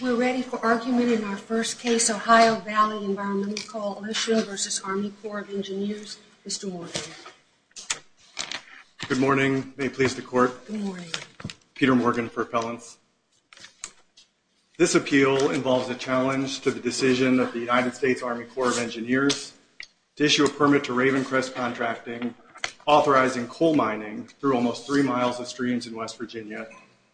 We're ready for argument in our first case, Ohio Valley Environmental Coal Issue v. Army Corps of Engineers. Mr. Morgan. Good morning. May it please the court. Peter Morgan for appellants. This appeal involves a challenge to the decision of the United States Army Corps of Engineers to issue a permit to Ravencrest Contracting, authorizing coal mining through almost three miles of streams in West Virginia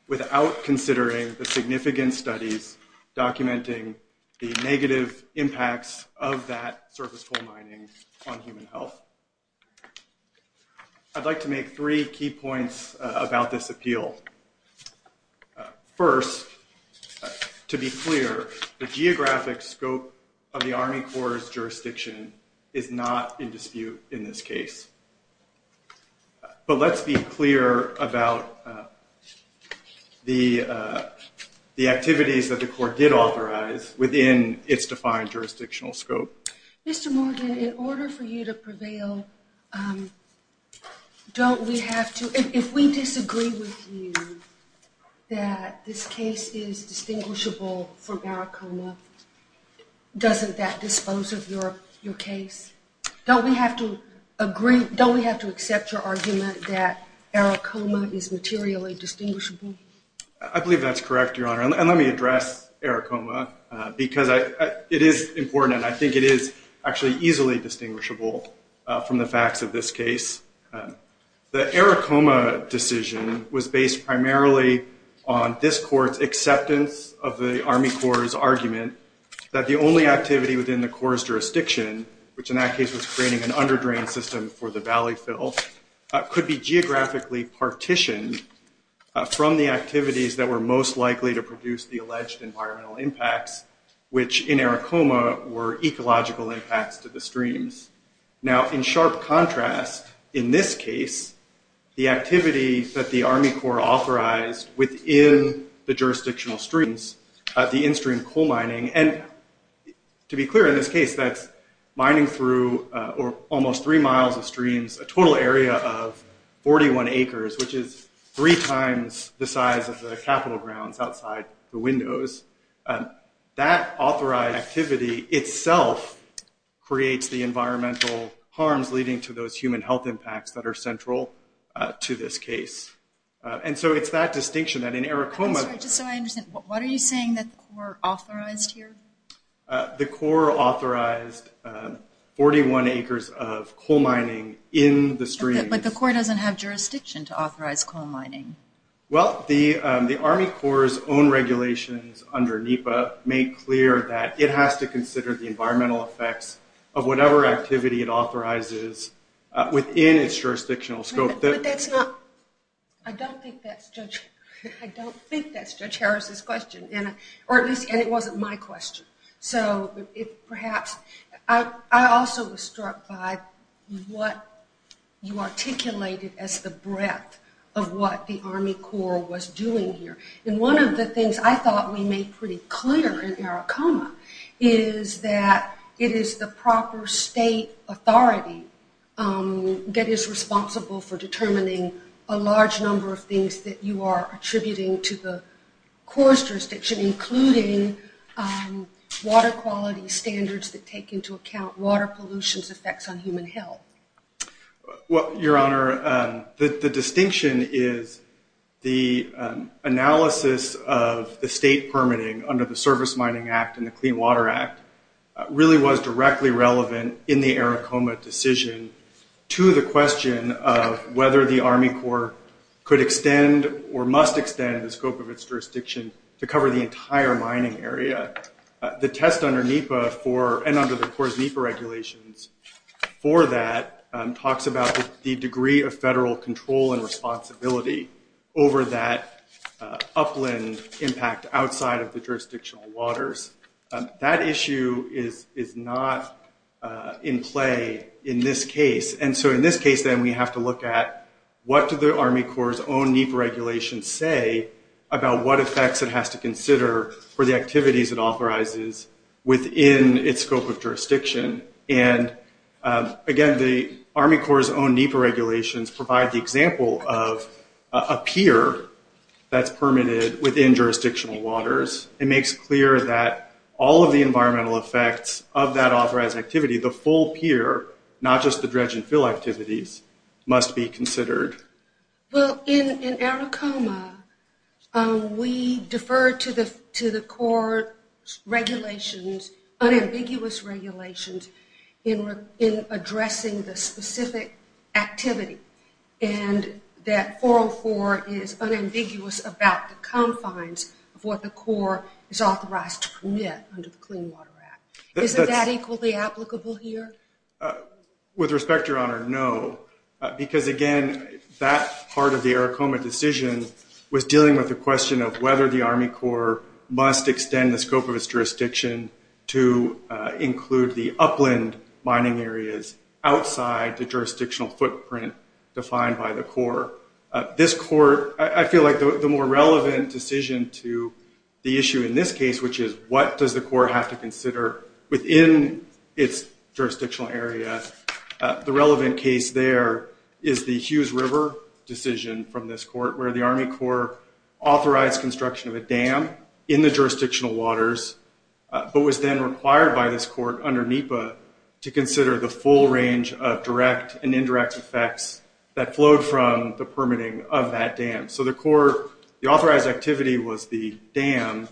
without considering the significant studies documenting the negative impacts of that surface coal mining on human health. I'd like to make three key points about this appeal. First, to be clear, the geographic scope of the Army Corps' jurisdiction is not in dispute in this case. But let's be clear about the activities that the court did authorize within its defined jurisdictional scope. Mr. Morgan, in order for you to prevail, don't we have to, if we disagree with you that this case is distinguishable from Maricoma, doesn't that dispose of your case? Don't we have to agree, don't we have to accept your argument that Maricoma is materially distinguishable? I believe that's correct, Your Honor. And let me address Maricoma because it is important. I think it is actually easily distinguishable from the facts of this case. The Maricoma decision was based primarily on this court's acceptance of the Army Corps' argument that the only activity within the Corps' jurisdiction, which in that case was creating an underdrain system for the valley fill, could be geographically partitioned from the activities that were most likely to produce the alleged environmental impacts, which in Maricoma were ecological impacts to the streams. Now, in sharp contrast, in this case, the activity that the Army Corps authorized within the jurisdictional streams, the in-stream coal mining, and to be clear, in this case, that's mining through almost three miles of streams, a total area of 41 acres, which is three times the size of the capital grounds outside the windows. That authorized activity itself creates the environmental harms leading to those human health impacts that are central to this case. And so it's that distinction that in Maricoma... I'm sorry, just so I understand, what are you saying that the Corps authorized here? The Corps authorized 41 acres of coal mining in the streams. But the Corps doesn't have jurisdiction to authorize coal mining. Well, the Army Corps' own regulations under NEPA make clear that it has to consider the environmental effects of whatever activity it authorizes within its jurisdictional scope. But that's not... I don't think that's Judge Harris's question, or at least it wasn't my question. So perhaps... I also was struck by what you articulated as the breadth of what the Army Corps was doing here. And one of the things I thought we made pretty clear in Maricoma is that it is the proper state authority that is responsible for determining a large number of things that you are attributing to the Corps' jurisdiction, including water quality standards that take into account water pollution's effects on human health. Well, Your Honor, the distinction is the analysis of the state permitting under the Service Mining Act and the Clean Water Act really was directly relevant in the Maricoma decision to the question of whether the Army Corps could extend or must extend the scope of its jurisdiction to cover the entire mining area. The test under NEPA and under the Corps' NEPA regulations for that talks about the degree of federal control and responsibility over that upland impact outside of the jurisdictional waters. That issue is not in play in this case. And so in this case, then, we have to look at what do the Army Corps' own NEPA regulations say about what effects it has to consider for the activities it authorizes within its scope of jurisdiction. And again, the Army Corps' own NEPA regulations provide the example of a pier that's permitted within jurisdictional waters. It makes clear that all of the environmental effects of that authorized activity, the full pier, not just the dredge and fill activities, must be considered. Well, in Maricoma, we defer to the Corps' regulations, unambiguous regulations, in addressing the specific activity. And that 404 is unambiguous about the confines of what the Corps is authorized to commit under the Clean Water Act. Isn't that equally applicable here? With respect, Your Honor, no. Because again, that part of the Maricoma decision was dealing with the question of whether the Army Corps must extend the scope of its jurisdiction to include the upland mining areas outside the jurisdictional footprint defined by the Corps. This Court, I feel like the more relevant decision to the issue in this case, which is what does the Corps have to consider within its jurisdictional area, the relevant case there is the Hughes River decision from this Court, where the Army Corps authorized construction of a dam in the jurisdictional waters, but was then required by this Court under NEPA to consider the full range of direct and indirect effects that flowed from the permitting of that dam. So the authorized activity was the dam,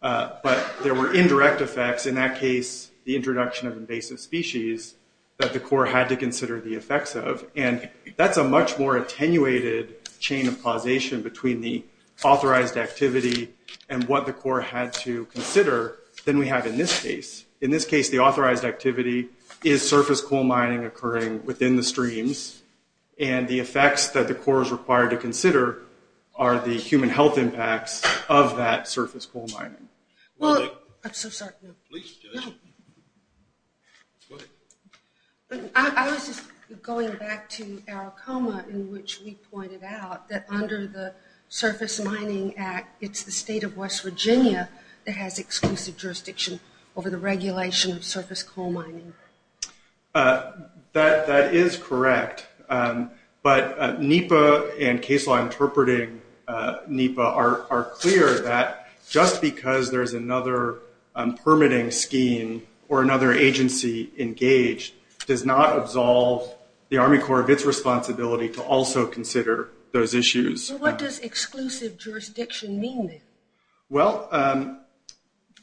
but there were indirect effects. In that case, the introduction of invasive species that the Corps had to consider the effects of. And that's a much more attenuated chain of causation between the authorized activity and what the Corps had to consider than we have in this case. In this case, the authorized activity is surface coal mining occurring within the streams. And the effects that the Corps is required to consider are the human health impacts of that surface coal mining. Well, I'm so sorry. I was just going back to our coma in which we pointed out that under the Surface Mining Act, it's the state of West Virginia that has exclusive jurisdiction over the regulation of surface coal mining. That is correct. But NEPA and case law interpreting NEPA are clear that just because there's another permitting scheme or another agency engaged does not absolve the Army Corps of its responsibility to also consider those issues. What does exclusive jurisdiction mean? Well,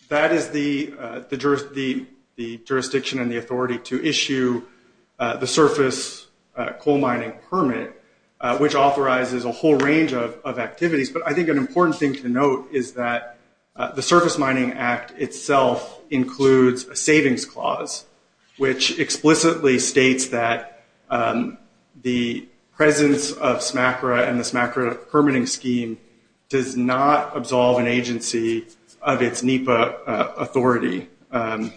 that is the jurisdiction and the authority to issue the surface coal mining permit, which authorizes a whole range of activities. But I think an important thing to note is that the Surface Mining Act itself includes a savings clause, which explicitly states that the presence of SMACRA and the SMACRA permitting scheme does not absolve an agency of its NEPA authority. I'm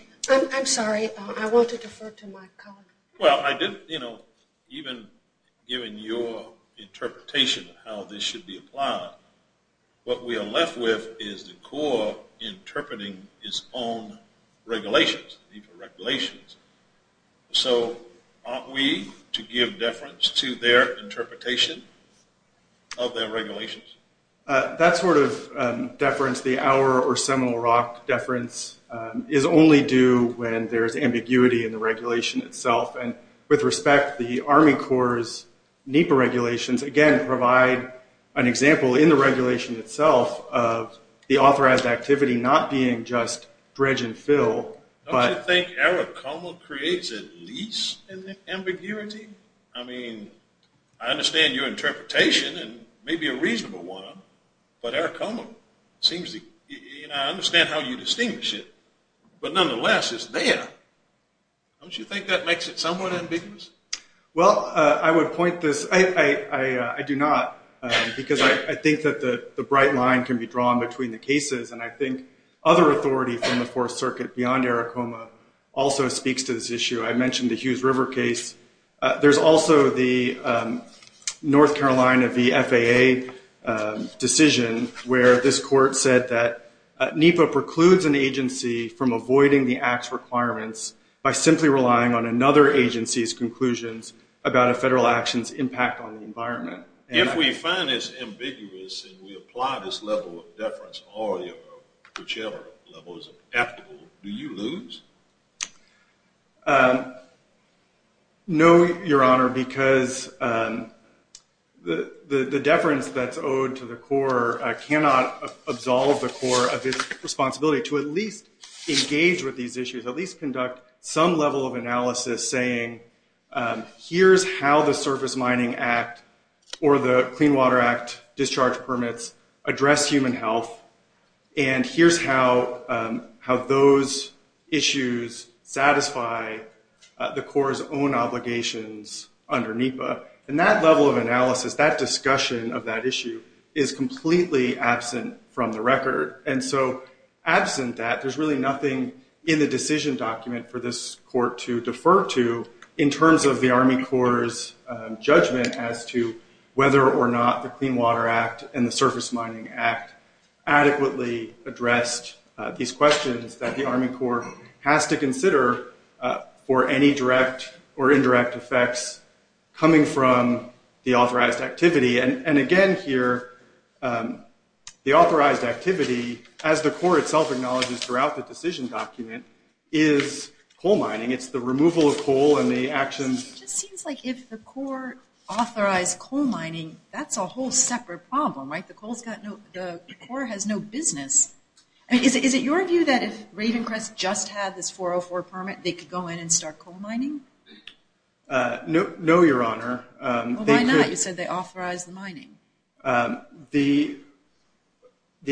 sorry. I want to defer to my colleague. Well, even given your interpretation of how this should be applied, what we are left with is the Corps interpreting its own regulations, the NEPA regulations. So aren't we to give deference to their interpretation of their regulations? That sort of deference, the hour or seminal rock deference, is only due when there's ambiguity in the regulation itself. And with respect, the Army Corps' NEPA regulations, again, provide an example in the regulation itself of the authorized activity not being just dredge and fill, I think ARACOMA creates at least an ambiguity. I mean, I understand your interpretation, and maybe a reasonable one, but ARACOMA seems to, and I understand how you distinguish it, but nonetheless, it's there. Don't you think that makes it somewhat ambiguous? Well, I would point this, I do not, because I think that the bright line can be drawn between the cases, and I think other authority from the Fourth Circuit beyond ARACOMA also speaks to this issue. I mentioned the Hughes River case. There's also the North Carolina v. FAA decision, where this court said that NEPA precludes an agency from avoiding the Act's requirements by simply relying on another agency's conclusions about a federal action's impact on the environment. If we find this ambiguous and we apply this level of deference, or whichever level is applicable, do you lose? No, Your Honor, because the deference that's owed to the Corps cannot absolve the Corps of its responsibility to at least engage with these issues, at least conduct some level of analysis saying, here's how the Surface Mining Act or the Clean Water Act discharge permits address human health, and here's how those issues satisfy the Corps' own obligations under NEPA. And that level of analysis, that discussion of that issue, is completely absent from the record. And so absent that, there's really nothing in the decision document for this court to defer to in terms of the Army Corps' judgment as to whether or not the Clean Water Act and the Surface Mining Act adequately addressed these questions that the Army Corps has to consider for any direct or indirect effects coming from the authorized activity. And again here, the authorized activity, as the Corps itself acknowledges throughout the decision document, is coal mining. It's the removal of coal and the actions... It just seems like if the Corps authorized coal mining, that's a whole separate problem, right? The Corps has no business. Is it your view that if Ravencrest just had this 404 permit, they could go in and start coal mining? No, Your Honor. The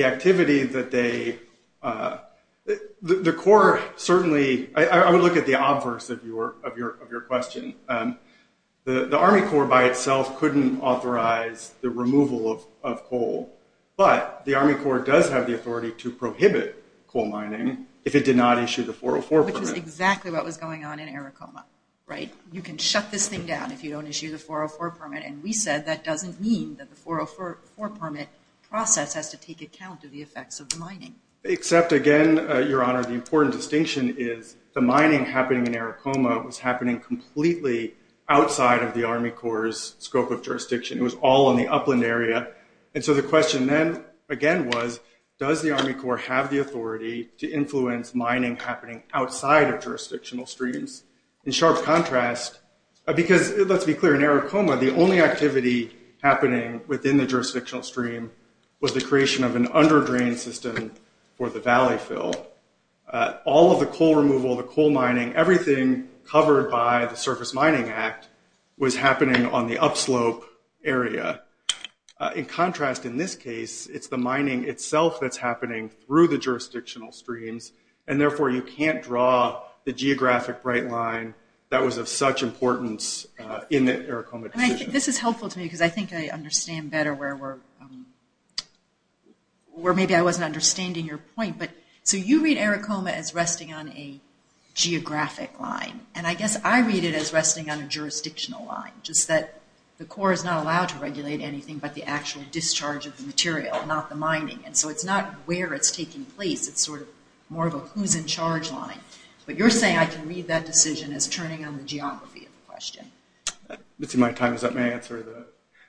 activity that they... The Corps certainly... I would look at the obverse of your question. The Army Corps by itself couldn't authorize the removal of coal, but the Army Corps does have the authority to prohibit coal mining if it did not issue the 404 permit. Which is exactly what was going on in Arikoma, right? You can shut this thing down if you don't issue the 404 permit, and we said that doesn't mean that the 404 permit process has to take account of the effects of the mining. Except again, Your Honor, the important distinction is the mining happening in Arikoma was happening completely outside of the Army Corps' scope of jurisdiction. It was all in the upland area. And so the question then again was, does the Army Corps have the authority to influence mining happening outside of jurisdictional streams? In sharp contrast... Because let's be clear, in Arikoma, the only activity happening within the jurisdictional stream was the creation of an underdrain system for the valley fill. All of the coal removal, the coal mining, everything covered by the Surface Mining Act was happening on the upslope area. In contrast, in this case, it's the mining itself that's happening through the jurisdictional streams, and therefore you can't draw the geographic bright line that was of such importance in the Arikoma decision. This is helpful to me because I think I understand better where maybe I wasn't understanding your point. So you read Arikoma as resting on a geographic line, and I guess I read it as resting on a jurisdictional line, just that the Corps is not allowed to regulate anything but the actual discharge of the material, not the mining. And so it's not where it's taking place, it's sort of more of a who's in charge line. But you're saying I can read that decision as turning on the geography of the question. Let's see, my time is up. May I answer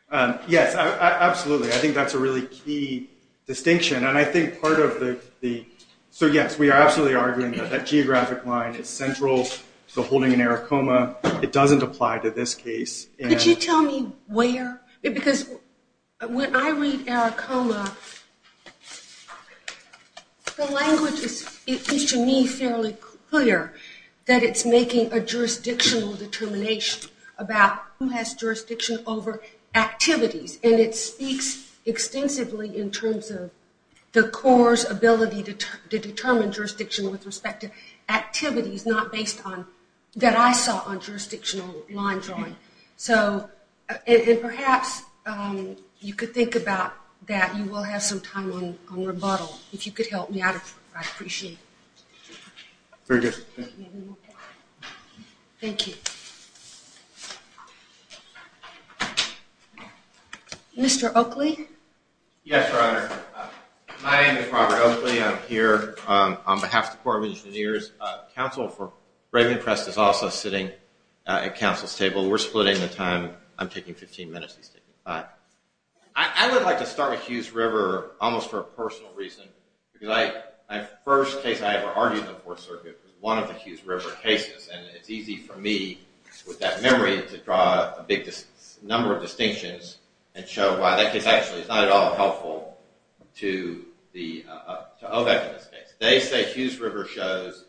that? Yes, absolutely. I think that's a really key distinction. And I think part of the... So yes, we are absolutely arguing that that geographic line is central to the holding in Arikoma. It doesn't apply to this case. Could you tell me where? Because when I read Arikoma, the language is, to me, fairly clear that it's making a jurisdictional determination about who has jurisdiction over activities. And it speaks extensively in terms of the Corps' ability to determine jurisdiction with respect to activities not based on... that I saw on jurisdictional line drawing. And perhaps you could think about that. And we'll have some time on rebuttal. If you could help me out, I'd appreciate it. Very good. Thank you. Mr. Oakley? Yes, Your Honor. My name is Robert Oakley. I'm here on behalf of the Corps of Engineers. The Council for Brave and Impressed is also sitting at Council's table. We're splitting the time. I'm taking 15 minutes. I would like to start with Hughes River almost for a personal reason. The first case I ever argued in the Fourth Circuit was one of the Hughes River cases. And it's easy for me, with that memory, to draw a big number of distinctions and show why that case actually is not at all helpful to OVEC in this case. They say Hughes River shows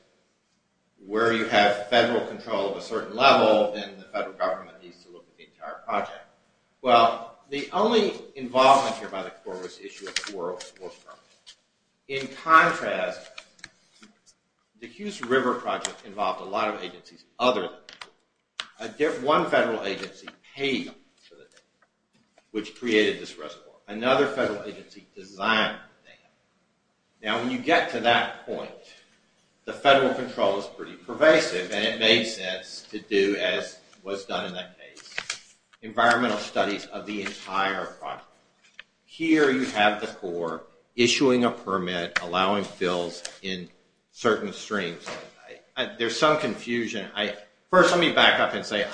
where you have federal control of a certain level, then the federal government needs to look at the entire project. Well, the only involvement here by the Corps was the issue of squirrels. In contrast, the Hughes River project involved a lot of agencies other than the Corps. One federal agency paid for the dam, which created this reservoir. Another federal agency designed the dam. Now, when you get to that point, the federal control is pretty pervasive, and it made sense to do as was done in that case. Environmental studies of the entire project. Here you have the Corps issuing a permit, allowing bills in certain streams. There's some confusion. First, let me back up and say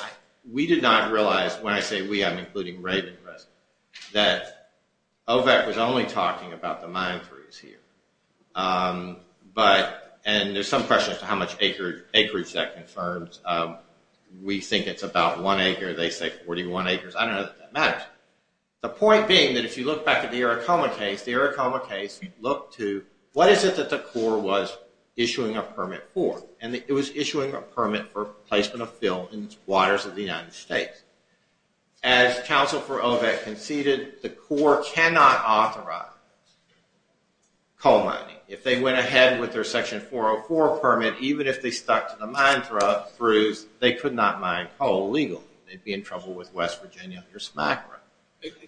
we did not realize, when I say we, I'm including Raven Risk, that OVEC was only talking about the mine freeze here. And there's some questions as to how much acreage that confirms. We think it's about one acre. They say 41 acres. I don't know that that matters. The point being that if you look back at the Arikoma case, the Arikoma case looked to what is it that the Corps was issuing a permit for? And it was issuing a permit for placement of fill in waters of the United States. As counsel for OVEC conceded, the Corps cannot authorize coal mining. If they went ahead with their Section 404 permit, even if they stuck to the mine freeze, they could not mine coal legally. They'd be in trouble with West Virginia or SMACRA.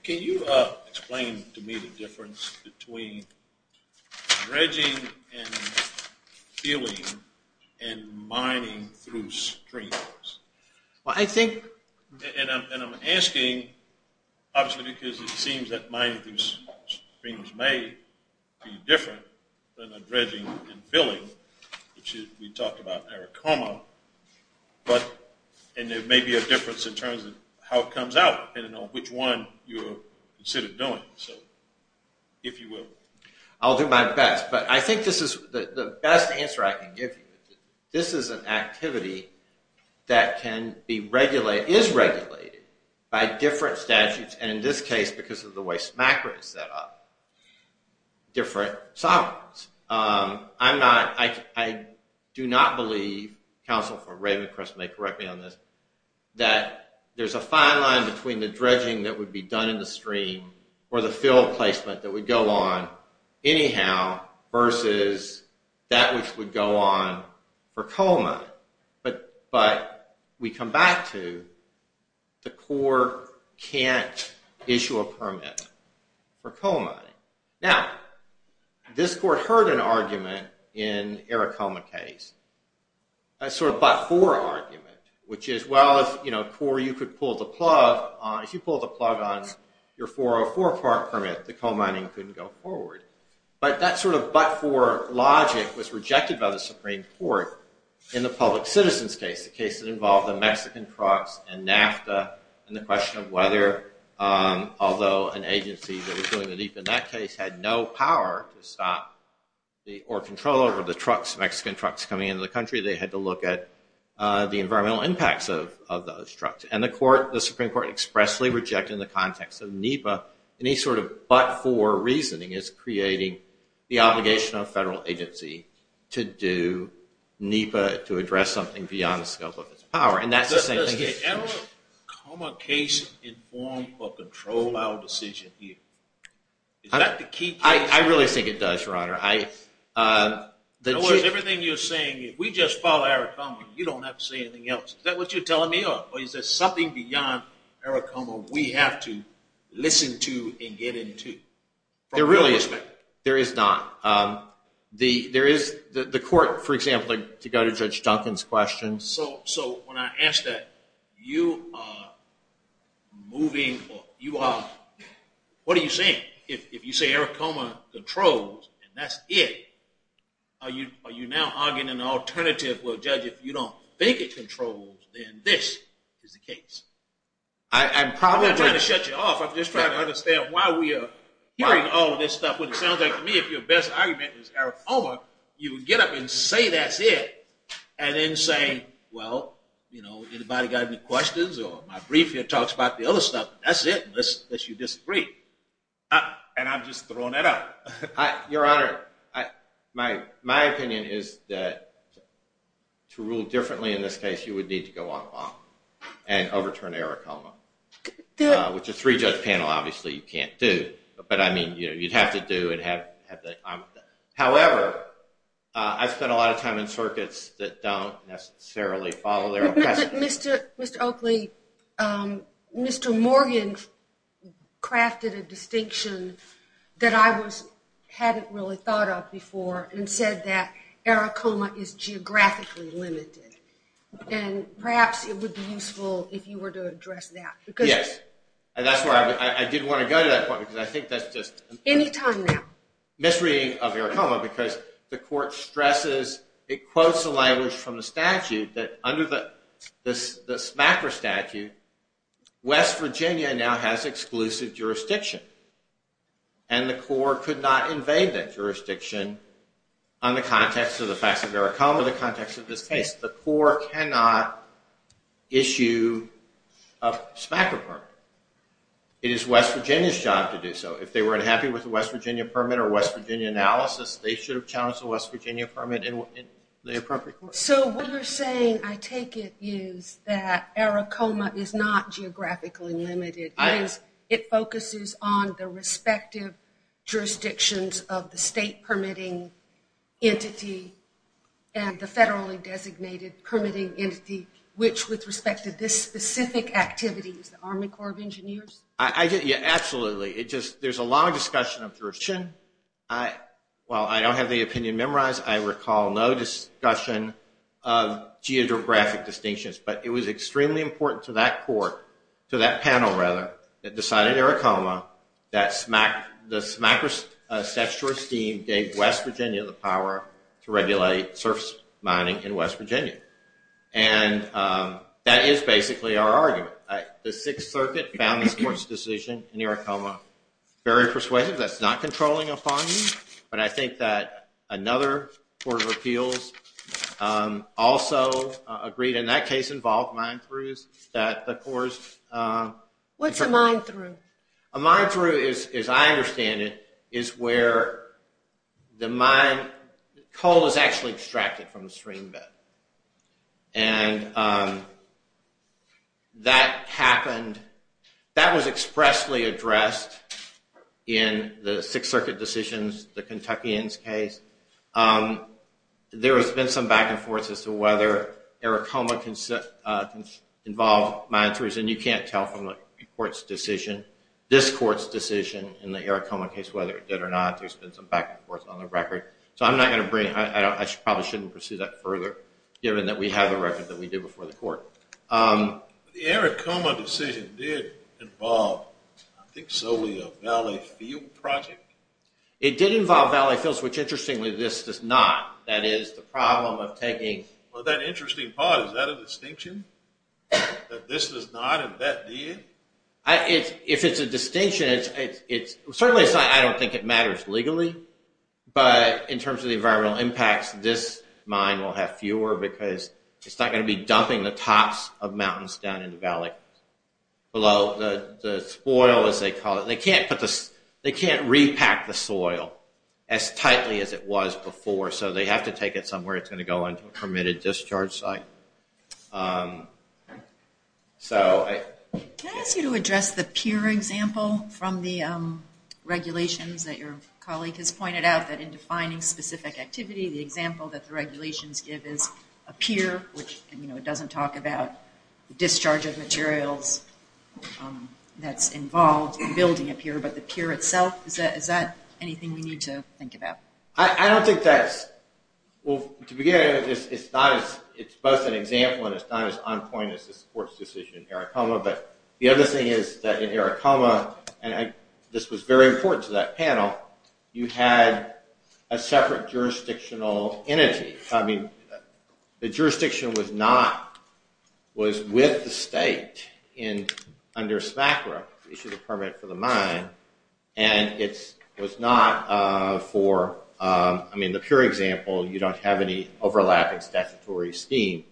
Can you explain to me the difference between dredging and filling and mining through streams? Well, I think... And I'm asking, mining through streams may be different than dredging and filling, which we talked about in Arikoma, and there may be a difference in terms of how it comes out depending on which one you consider doing, if you will. I'll do my best, but I think the best answer I can give you is that this is an activity that is regulated by different statutes, and in this case, because of the way SMACRA is set up, different sovereigns. I do not believe, counsel for Ravencrest may correct me on this, that there's a fine line between the dredging that would be done in the stream or the fill placement that would go on anyhow versus that which would go on for coal mining. But we come back to the Corps can't issue a permit for coal mining. Now, this court heard an argument in Arikoma case, a sort of but-for argument, which is, well, if, you know, Corps, you could pull the plug, if you pull the plug on your 404 permit, the coal mining couldn't go forward. But that sort of but-for logic was rejected by the Supreme Court in the public citizens case, the case that involved the Mexican trucks and NAFTA and the question of whether, although an agency in that case had no power to stop or control over the trucks, Mexican trucks coming into the country, they had to look at the environmental impacts of those trucks. And the Supreme Court expressly rejected in the context of NEPA any sort of but-for reasoning as creating the obligation of a federal agency to do NEPA to address something beyond the scope of its power. And that's the same thing here. Does the ARAKOMA case inform or control our decision here? Is that the key case? I really think it does, Your Honor. Everything you're saying, if we just follow ARAKOMA, you don't have to say anything else. Is that what you're telling me, or is there something beyond ARAKOMA we have to listen to and get into? There really is not. There is not. The court, for example, to go to Judge Duncan's question. So when I ask that, you are moving, what are you saying? If you say ARAKOMA controls and that's it, are you now arguing an alternative where a judge, if you don't think it controls, then this is the case? I'm not trying to shut you off. I'm just trying to understand why we are hearing all this stuff when it sounds like to me if your best argument is ARAKOMA, you would get up and say that's it and then say, well, anybody got any questions or my brief here talks about the other stuff, that's it unless you disagree. And I'm just throwing that out. Your Honor, my opinion is that to rule differently in this case, you would need to go on long and overturn ARAKOMA, which a three-judge panel obviously you can't do, but you'd have to do. However, I've spent a lot of time in circuits that don't necessarily follow their own precedent. Mr. Oakley, Mr. Morgan crafted a distinction that I hadn't really thought of before and said that ARAKOMA is geographically limited and perhaps it would be useful if you were to address that. Yes. I did want to go to that point because I think that's just Any time now. Misreading of ARAKOMA because the court stresses, it quotes the language from the statute that under the SMACRA statute, West Virginia now has exclusive jurisdiction and the court could not invade that jurisdiction on the context of the facts of ARAKOMA or the context of this case. The court cannot issue a SMACRA permit. It is West Virginia's job to do so. If they weren't happy with the West Virginia permit or West Virginia analysis, they should have challenged the West Virginia permit in the appropriate court. So what you're saying, I take it, is that ARAKOMA is not geographically limited. It focuses on the respective jurisdictions of the state permitting entity and the federally designated jurisdictions. There's a long discussion of jurisdiction. While I don't have the opinion memorized, I recall no discussion of geographic distinctions. But it was extremely important to that panel that decided ARAKOMA that the SMACRA statute gave West Virginia the power to regulate surface mining in West Virginia. And that is basically our argument. The Sixth Circuit found this court's decision in ARAKOMA very persuasive. That's not controlling a fine. But I think that another court of appeals also agreed. And that case involved mine-throughs that the courts What's a mine-through? A mine-through is, as I understand it, is where the mine coal is actually extracted from the stream bed. And that happened That was expressly addressed in the Sixth Circuit decisions, the Kentuckians case. There has been some back and forth as to whether ARAKOMA involved mine-throughs. And you can't tell from the court's decision, this court's decision in the ARAKOMA case whether it did or not. There's been some back and forth on the record. So I'm not going to bring I probably shouldn't pursue that further given that we have the record that we did before the court. The ARAKOMA decision did involve I think solely a valley field project? It did involve valley fields, which interestingly this does not. That is the problem of taking Well, that interesting part, is that a distinction? That this does not and that did? If it's a distinction, it's certainly I don't think it matters legally. But in terms of the environmental impacts, this mine will have fewer because it's not going to be dumping the tops of mountains down in the valley. The spoil, as they call it, they can't put the they can't repack the soil as tightly as it was before. So they have to take it somewhere it's going to go into a permitted discharge site. Can I ask you to address the pier example from the regulations that your colleague has pointed out that in defining specific activity, the example that the pier, which doesn't talk about the discharge of materials that's involved in building a pier, but the pier itself? Is that anything we need to think about? I don't think that's well, to begin it's not it's both an example and it's not as on point as this court's decision in Aracoma. But the other thing is that in Aracoma and this was very important to that panel, you had a separate jurisdictional entity. I mean, the jurisdiction was not was with the state and under SMACRA issued a permit for the mine and it was not for I mean, the pier example you don't have any overlapping statutory scheme.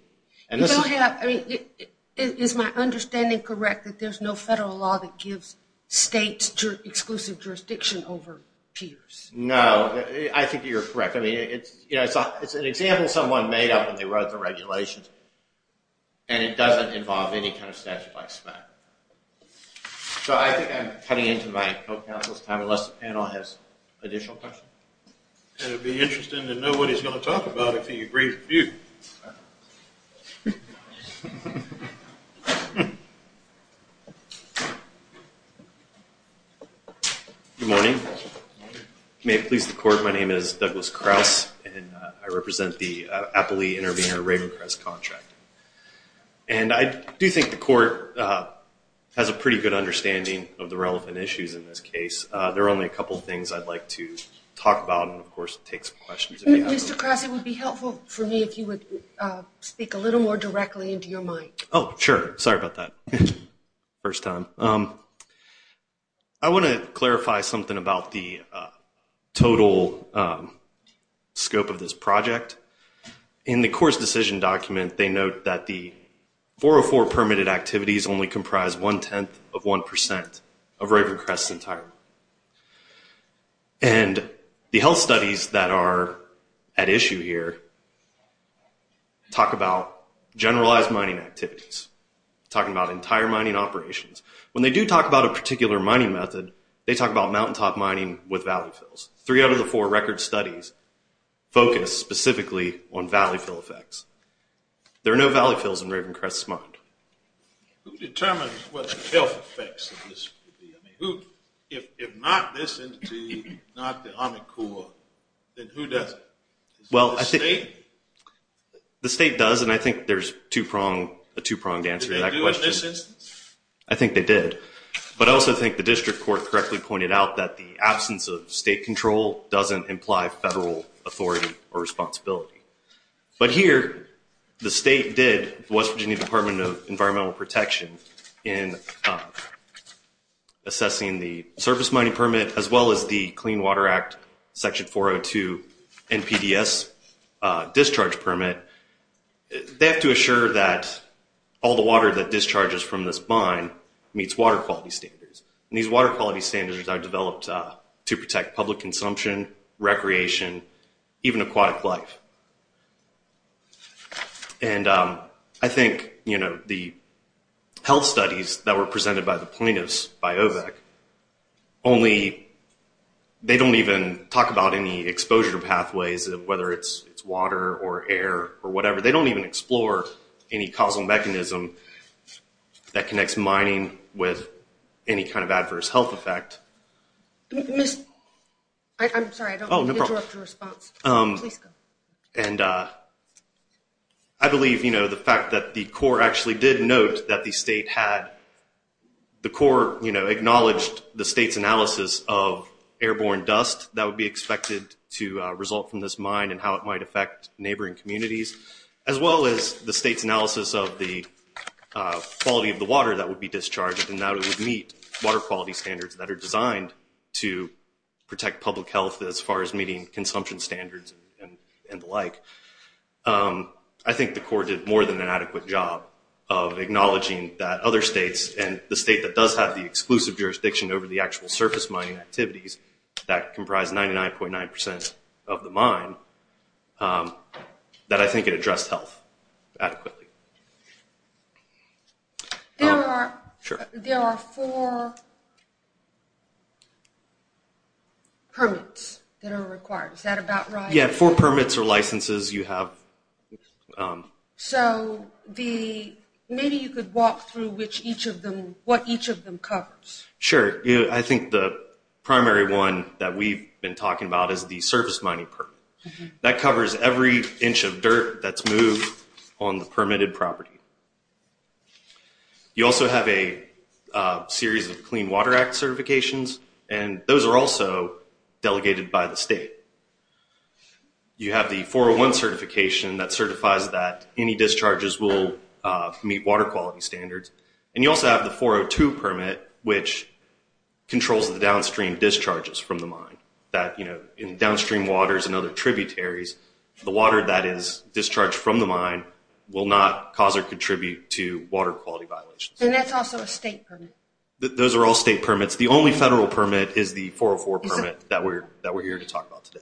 Is my understanding correct that there's no federal law that gives states exclusive jurisdiction over piers? No, I think you're correct. I mean, it's an example someone made up when they wrote the regulations and it doesn't involve any kind of statute like SMACRA. So I think I'm cutting into my co-counsel's time unless the panel has additional questions. And it would be interesting to know what he's going to say about I'm Mr. Krause and I represent the appley intervener contract. And I do think the court has a pretty good understanding of the relevant issues in this case. There are only a couple of things I'd like to talk about. It would be helpful for me if you would speak a little more directly into your mind. Oh, sure. Sorry about that. First time. I want to clarify something about the total scope of this project. In the court's decision document they note that the 404 permitted activities only comprise one-tenth of 1% of the total scope. So they don't talk about generalized mining activities. They don't talk about entire mining operations. When they do talk about a particular mining method, they talk about mountain top mining with valley plain mountain top as well. the state did the Department of Environmental Protection in assessing the surface mining permit as well as the NPDS penalty and they have to assure that all the water that discharges from this mine meets water quality standards and these water quality standards are developed to protect public consumption recreation even aquatic life I think the health studies that were presented by the plaintiffs by OVAC only they don't even talk about any exposure pathways whether it's water or air or whatever, they don't even explore any causal mechanism that connects mining with any kind of adverse health effect I'm sorry I don't want to interrupt your response please go and I believe the fact that the Corps actually did note that the state had the Corps acknowledged the state's analysis of airborne dust that would be expected to result from this mine and how it might affect neighboring communities as well as the state's analysis of the quality of the water that would be discharged and that it would meet water quality standards that are designed to protect public health as far as meeting consumption standards and the like I think the Corps did more than an adequate job of acknowledging that other states and the state that does have the exclusive jurisdiction over the actual surface mining activities that comprise 99.9% of the mine that I think it addressed health adequately There are four permits that are required, is that about right? Yeah, four permits or licenses you have So maybe you could walk through what each of them covers Sure, I think the primary one that we've been talking about is the surface mining permit that covers every inch of dirt that's moved on the permitted property You also have a series of Clean Water Act certifications and those are also delegated by the state You have the 401 certification that certifies that any discharges will meet water quality standards and you also have the 402 permit which controls the downstream discharges from the mine That, you know, in downstream waters and other tributaries, the water that is discharged from the mine will not cause or contribute to water quality violations And that's also a state permit? Those are all state permits. The only federal permit is the 404 permit that we're here to talk about today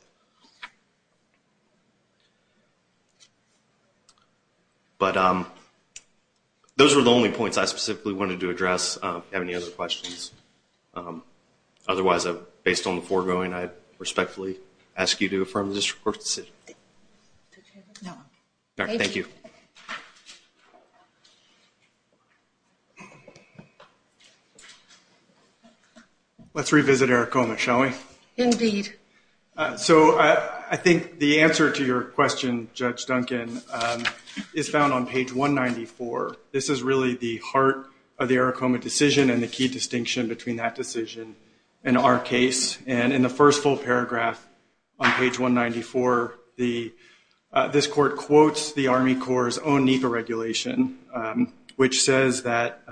Those were the only points I specifically wanted to address If you have any other questions Otherwise, based on the foregoing, I respectfully ask you to affirm this report Thank you Let's revisit Aricoma, shall we? Indeed I think the answer to your question, is found on page 194 This is really the heart of the negotiation between that decision and our case And in the first full paragraph on page 194 This court quotes the Army Corps' own NEPA regulation which says that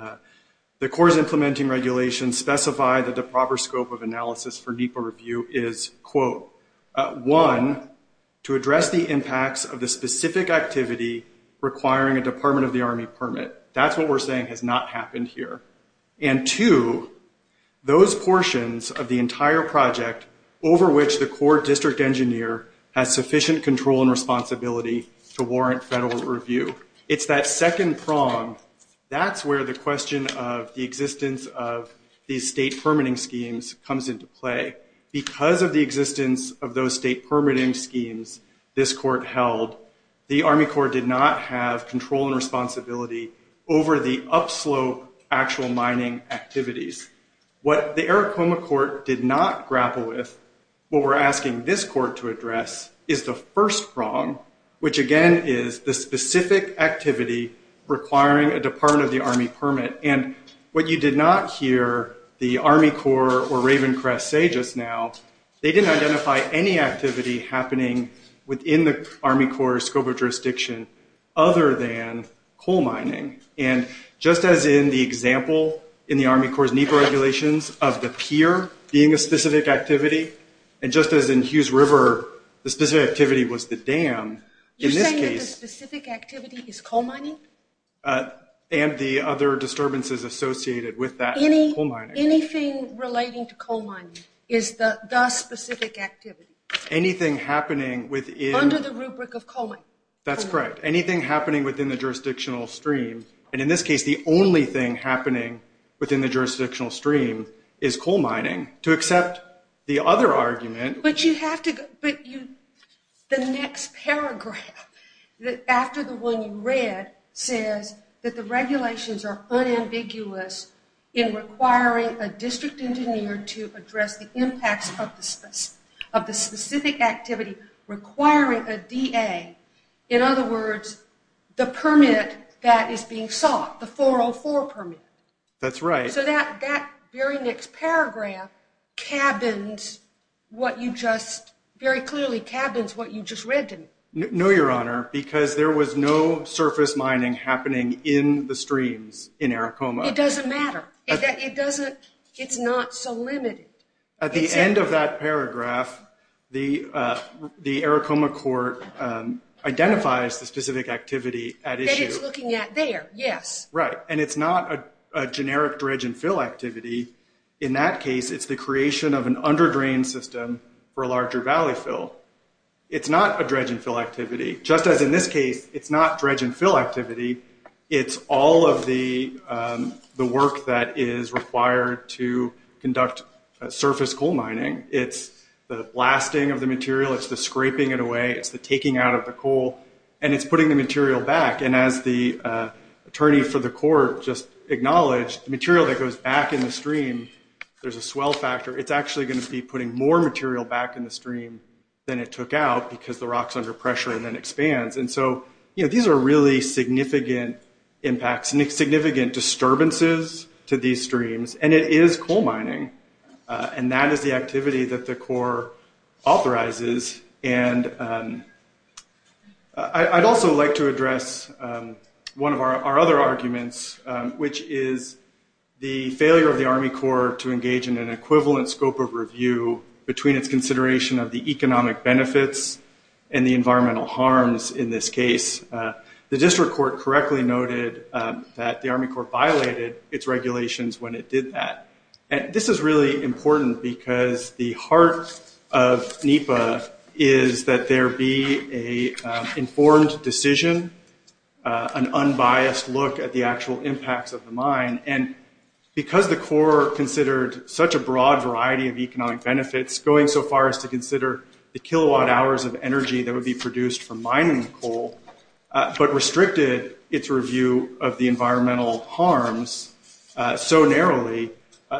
the Corps' implementing regulations specify that the proper scope of analysis for NEPA review is One, to address the impacts of the specific activity requiring a Department of the Army permit. That's what we're saying has not happened here And two, those portions of the entire project over which the Corps district engineer has sufficient control and responsibility to warrant federal review It's that second prong That's where the question of the existence of these state permitting schemes comes into play Because of the existence of those state permitting schemes this court held the Army Corps did not have control and responsibility over the upslope actual mining activities. What the Aracoma Court did not grapple with what we're asking this court to address is the first prong which again is the specific activity requiring a Department of the Army permit And what you did not hear the Army Corps or Ravencrest say just now, they didn't identify any activity happening within the Army Corps scope of coal mining. And just as in the example in the Army Corps NEPA regulations of the pier being a specific activity and just as in Hughes River the specific activity was the dam You're saying that the specific activity is coal mining? And the other disturbances associated with that coal mining Anything relating to coal mining is the specific activity Anything happening within Under the rubric of coal mining That's correct. Anything happening within the jurisdictional stream, and in this case the only thing happening within the jurisdictional stream is coal mining. To accept the other argument... But you have to... The next paragraph after the one you read says that the regulations are unambiguous in requiring a district engineer to address the impacts of the specific activity requiring a DA in other words the permit that is being sought the 404 permit That's right. So that very next paragraph cabins what you just very clearly cabins what you just read to me. No your honor, because there was no surface mining happening in the streams in Aracoma. It doesn't matter. It's not so limited At the end of that paragraph the Aracoma Court identifies the specific activity at issue That it's looking at there, yes. Right. And it's not a generic dredge and fill activity. In that case it's the creation of an under drain system for a larger valley fill It's not a dredge and fill activity. Just as in this case, it's not dredge and fill activity It's all of the work that is required to conduct surface coal mining. It's the blasting of the material. It's the scraping it away It's the taking out of the coal and it's putting the material back. And as the attorney for the court just acknowledged, the material that goes back in the stream, there's a swell factor. It's actually going to be putting more material back in the stream than it took out because the rock is under pressure and then expands. And so these are really significant impacts, significant disturbances to these streams. And it is coal mining. And that is the activity that the court authorizes. And I'd also like to address one of our other arguments which is the failure of the Army Corps to engage in an equivalent scope of review between its consideration of the economic benefits and the environmental harms in this case. The district court correctly noted that the Army Corps violated its regulations when it did that. And this is really important because the heart of NEPA is that there be an informed decision, an unbiased look at the actual impacts of the mine. And because the Corps considered such a broad variety of economic benefits going so far as to consider the kilowatt hours of energy that would be produced from mining coal, but restricted its review of the environmental harms so narrowly,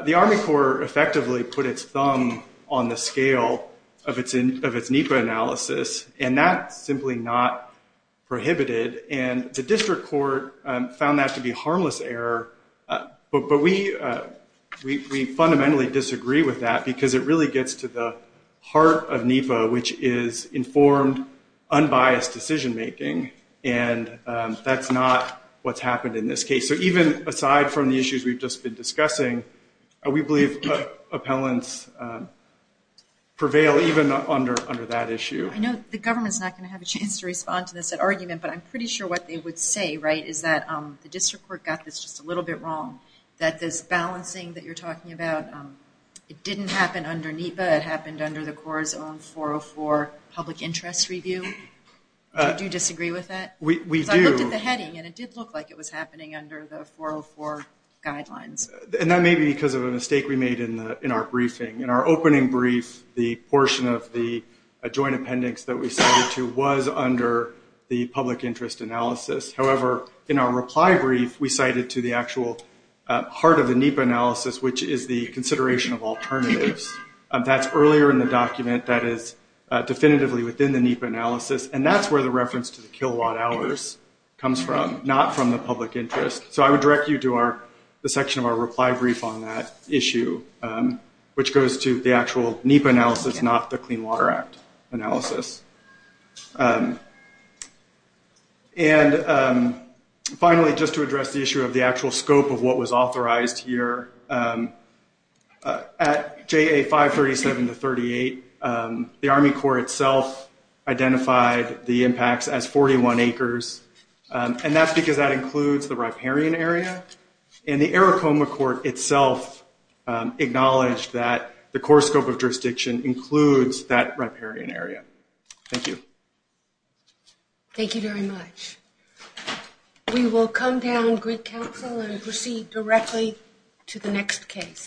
the Army Corps effectively put its thumb on the scale of its NEPA analysis and that's simply not prohibited. And the district court found that to be harmless error, but we fundamentally disagree with that because it really gets to the heart of NEPA, which is informed, unbiased decision making. And that's not what's happened in this case. So even aside from the issues we've just been discussing, we believe appellants prevail even under that issue. I know the government's not going to have a chance to respond to this argument, but I'm pretty sure what they would say, right, is that the district court got this just a little bit wrong. That this balancing that you're talking about, it didn't happen under NEPA, it happened under the Corps' own 404 public interest review. Do you disagree with that? We do. Because I looked at the heading and it did look like it was happening under the 404 guidelines. And that may be because of a mistake we made in our briefing. In our opening brief, the portion of the joint appendix that we cited to was under the public interest analysis. However, in our reply brief, we cited to the actual heart of the NEPA analysis, which is the consideration of alternatives. That's earlier in the document, that is definitively within the NEPA analysis, and that's where the reference to the kilowatt hours comes from. Not from the public interest. So I would direct you to the section of our reply brief on that issue, which goes to the actual NEPA analysis, not the Clean Water Act analysis. And finally, just to address the issue of the actual scope of what was authorized here, at JA 537 to 38, the Army Corps itself identified the impacts as 41 acres, and that's because that includes the riparian area, and the Arikoma Court itself acknowledged that the core scope of jurisdiction includes that riparian area. Thank you. Thank you very much. We will come down Greek Council and proceed directly to the next case.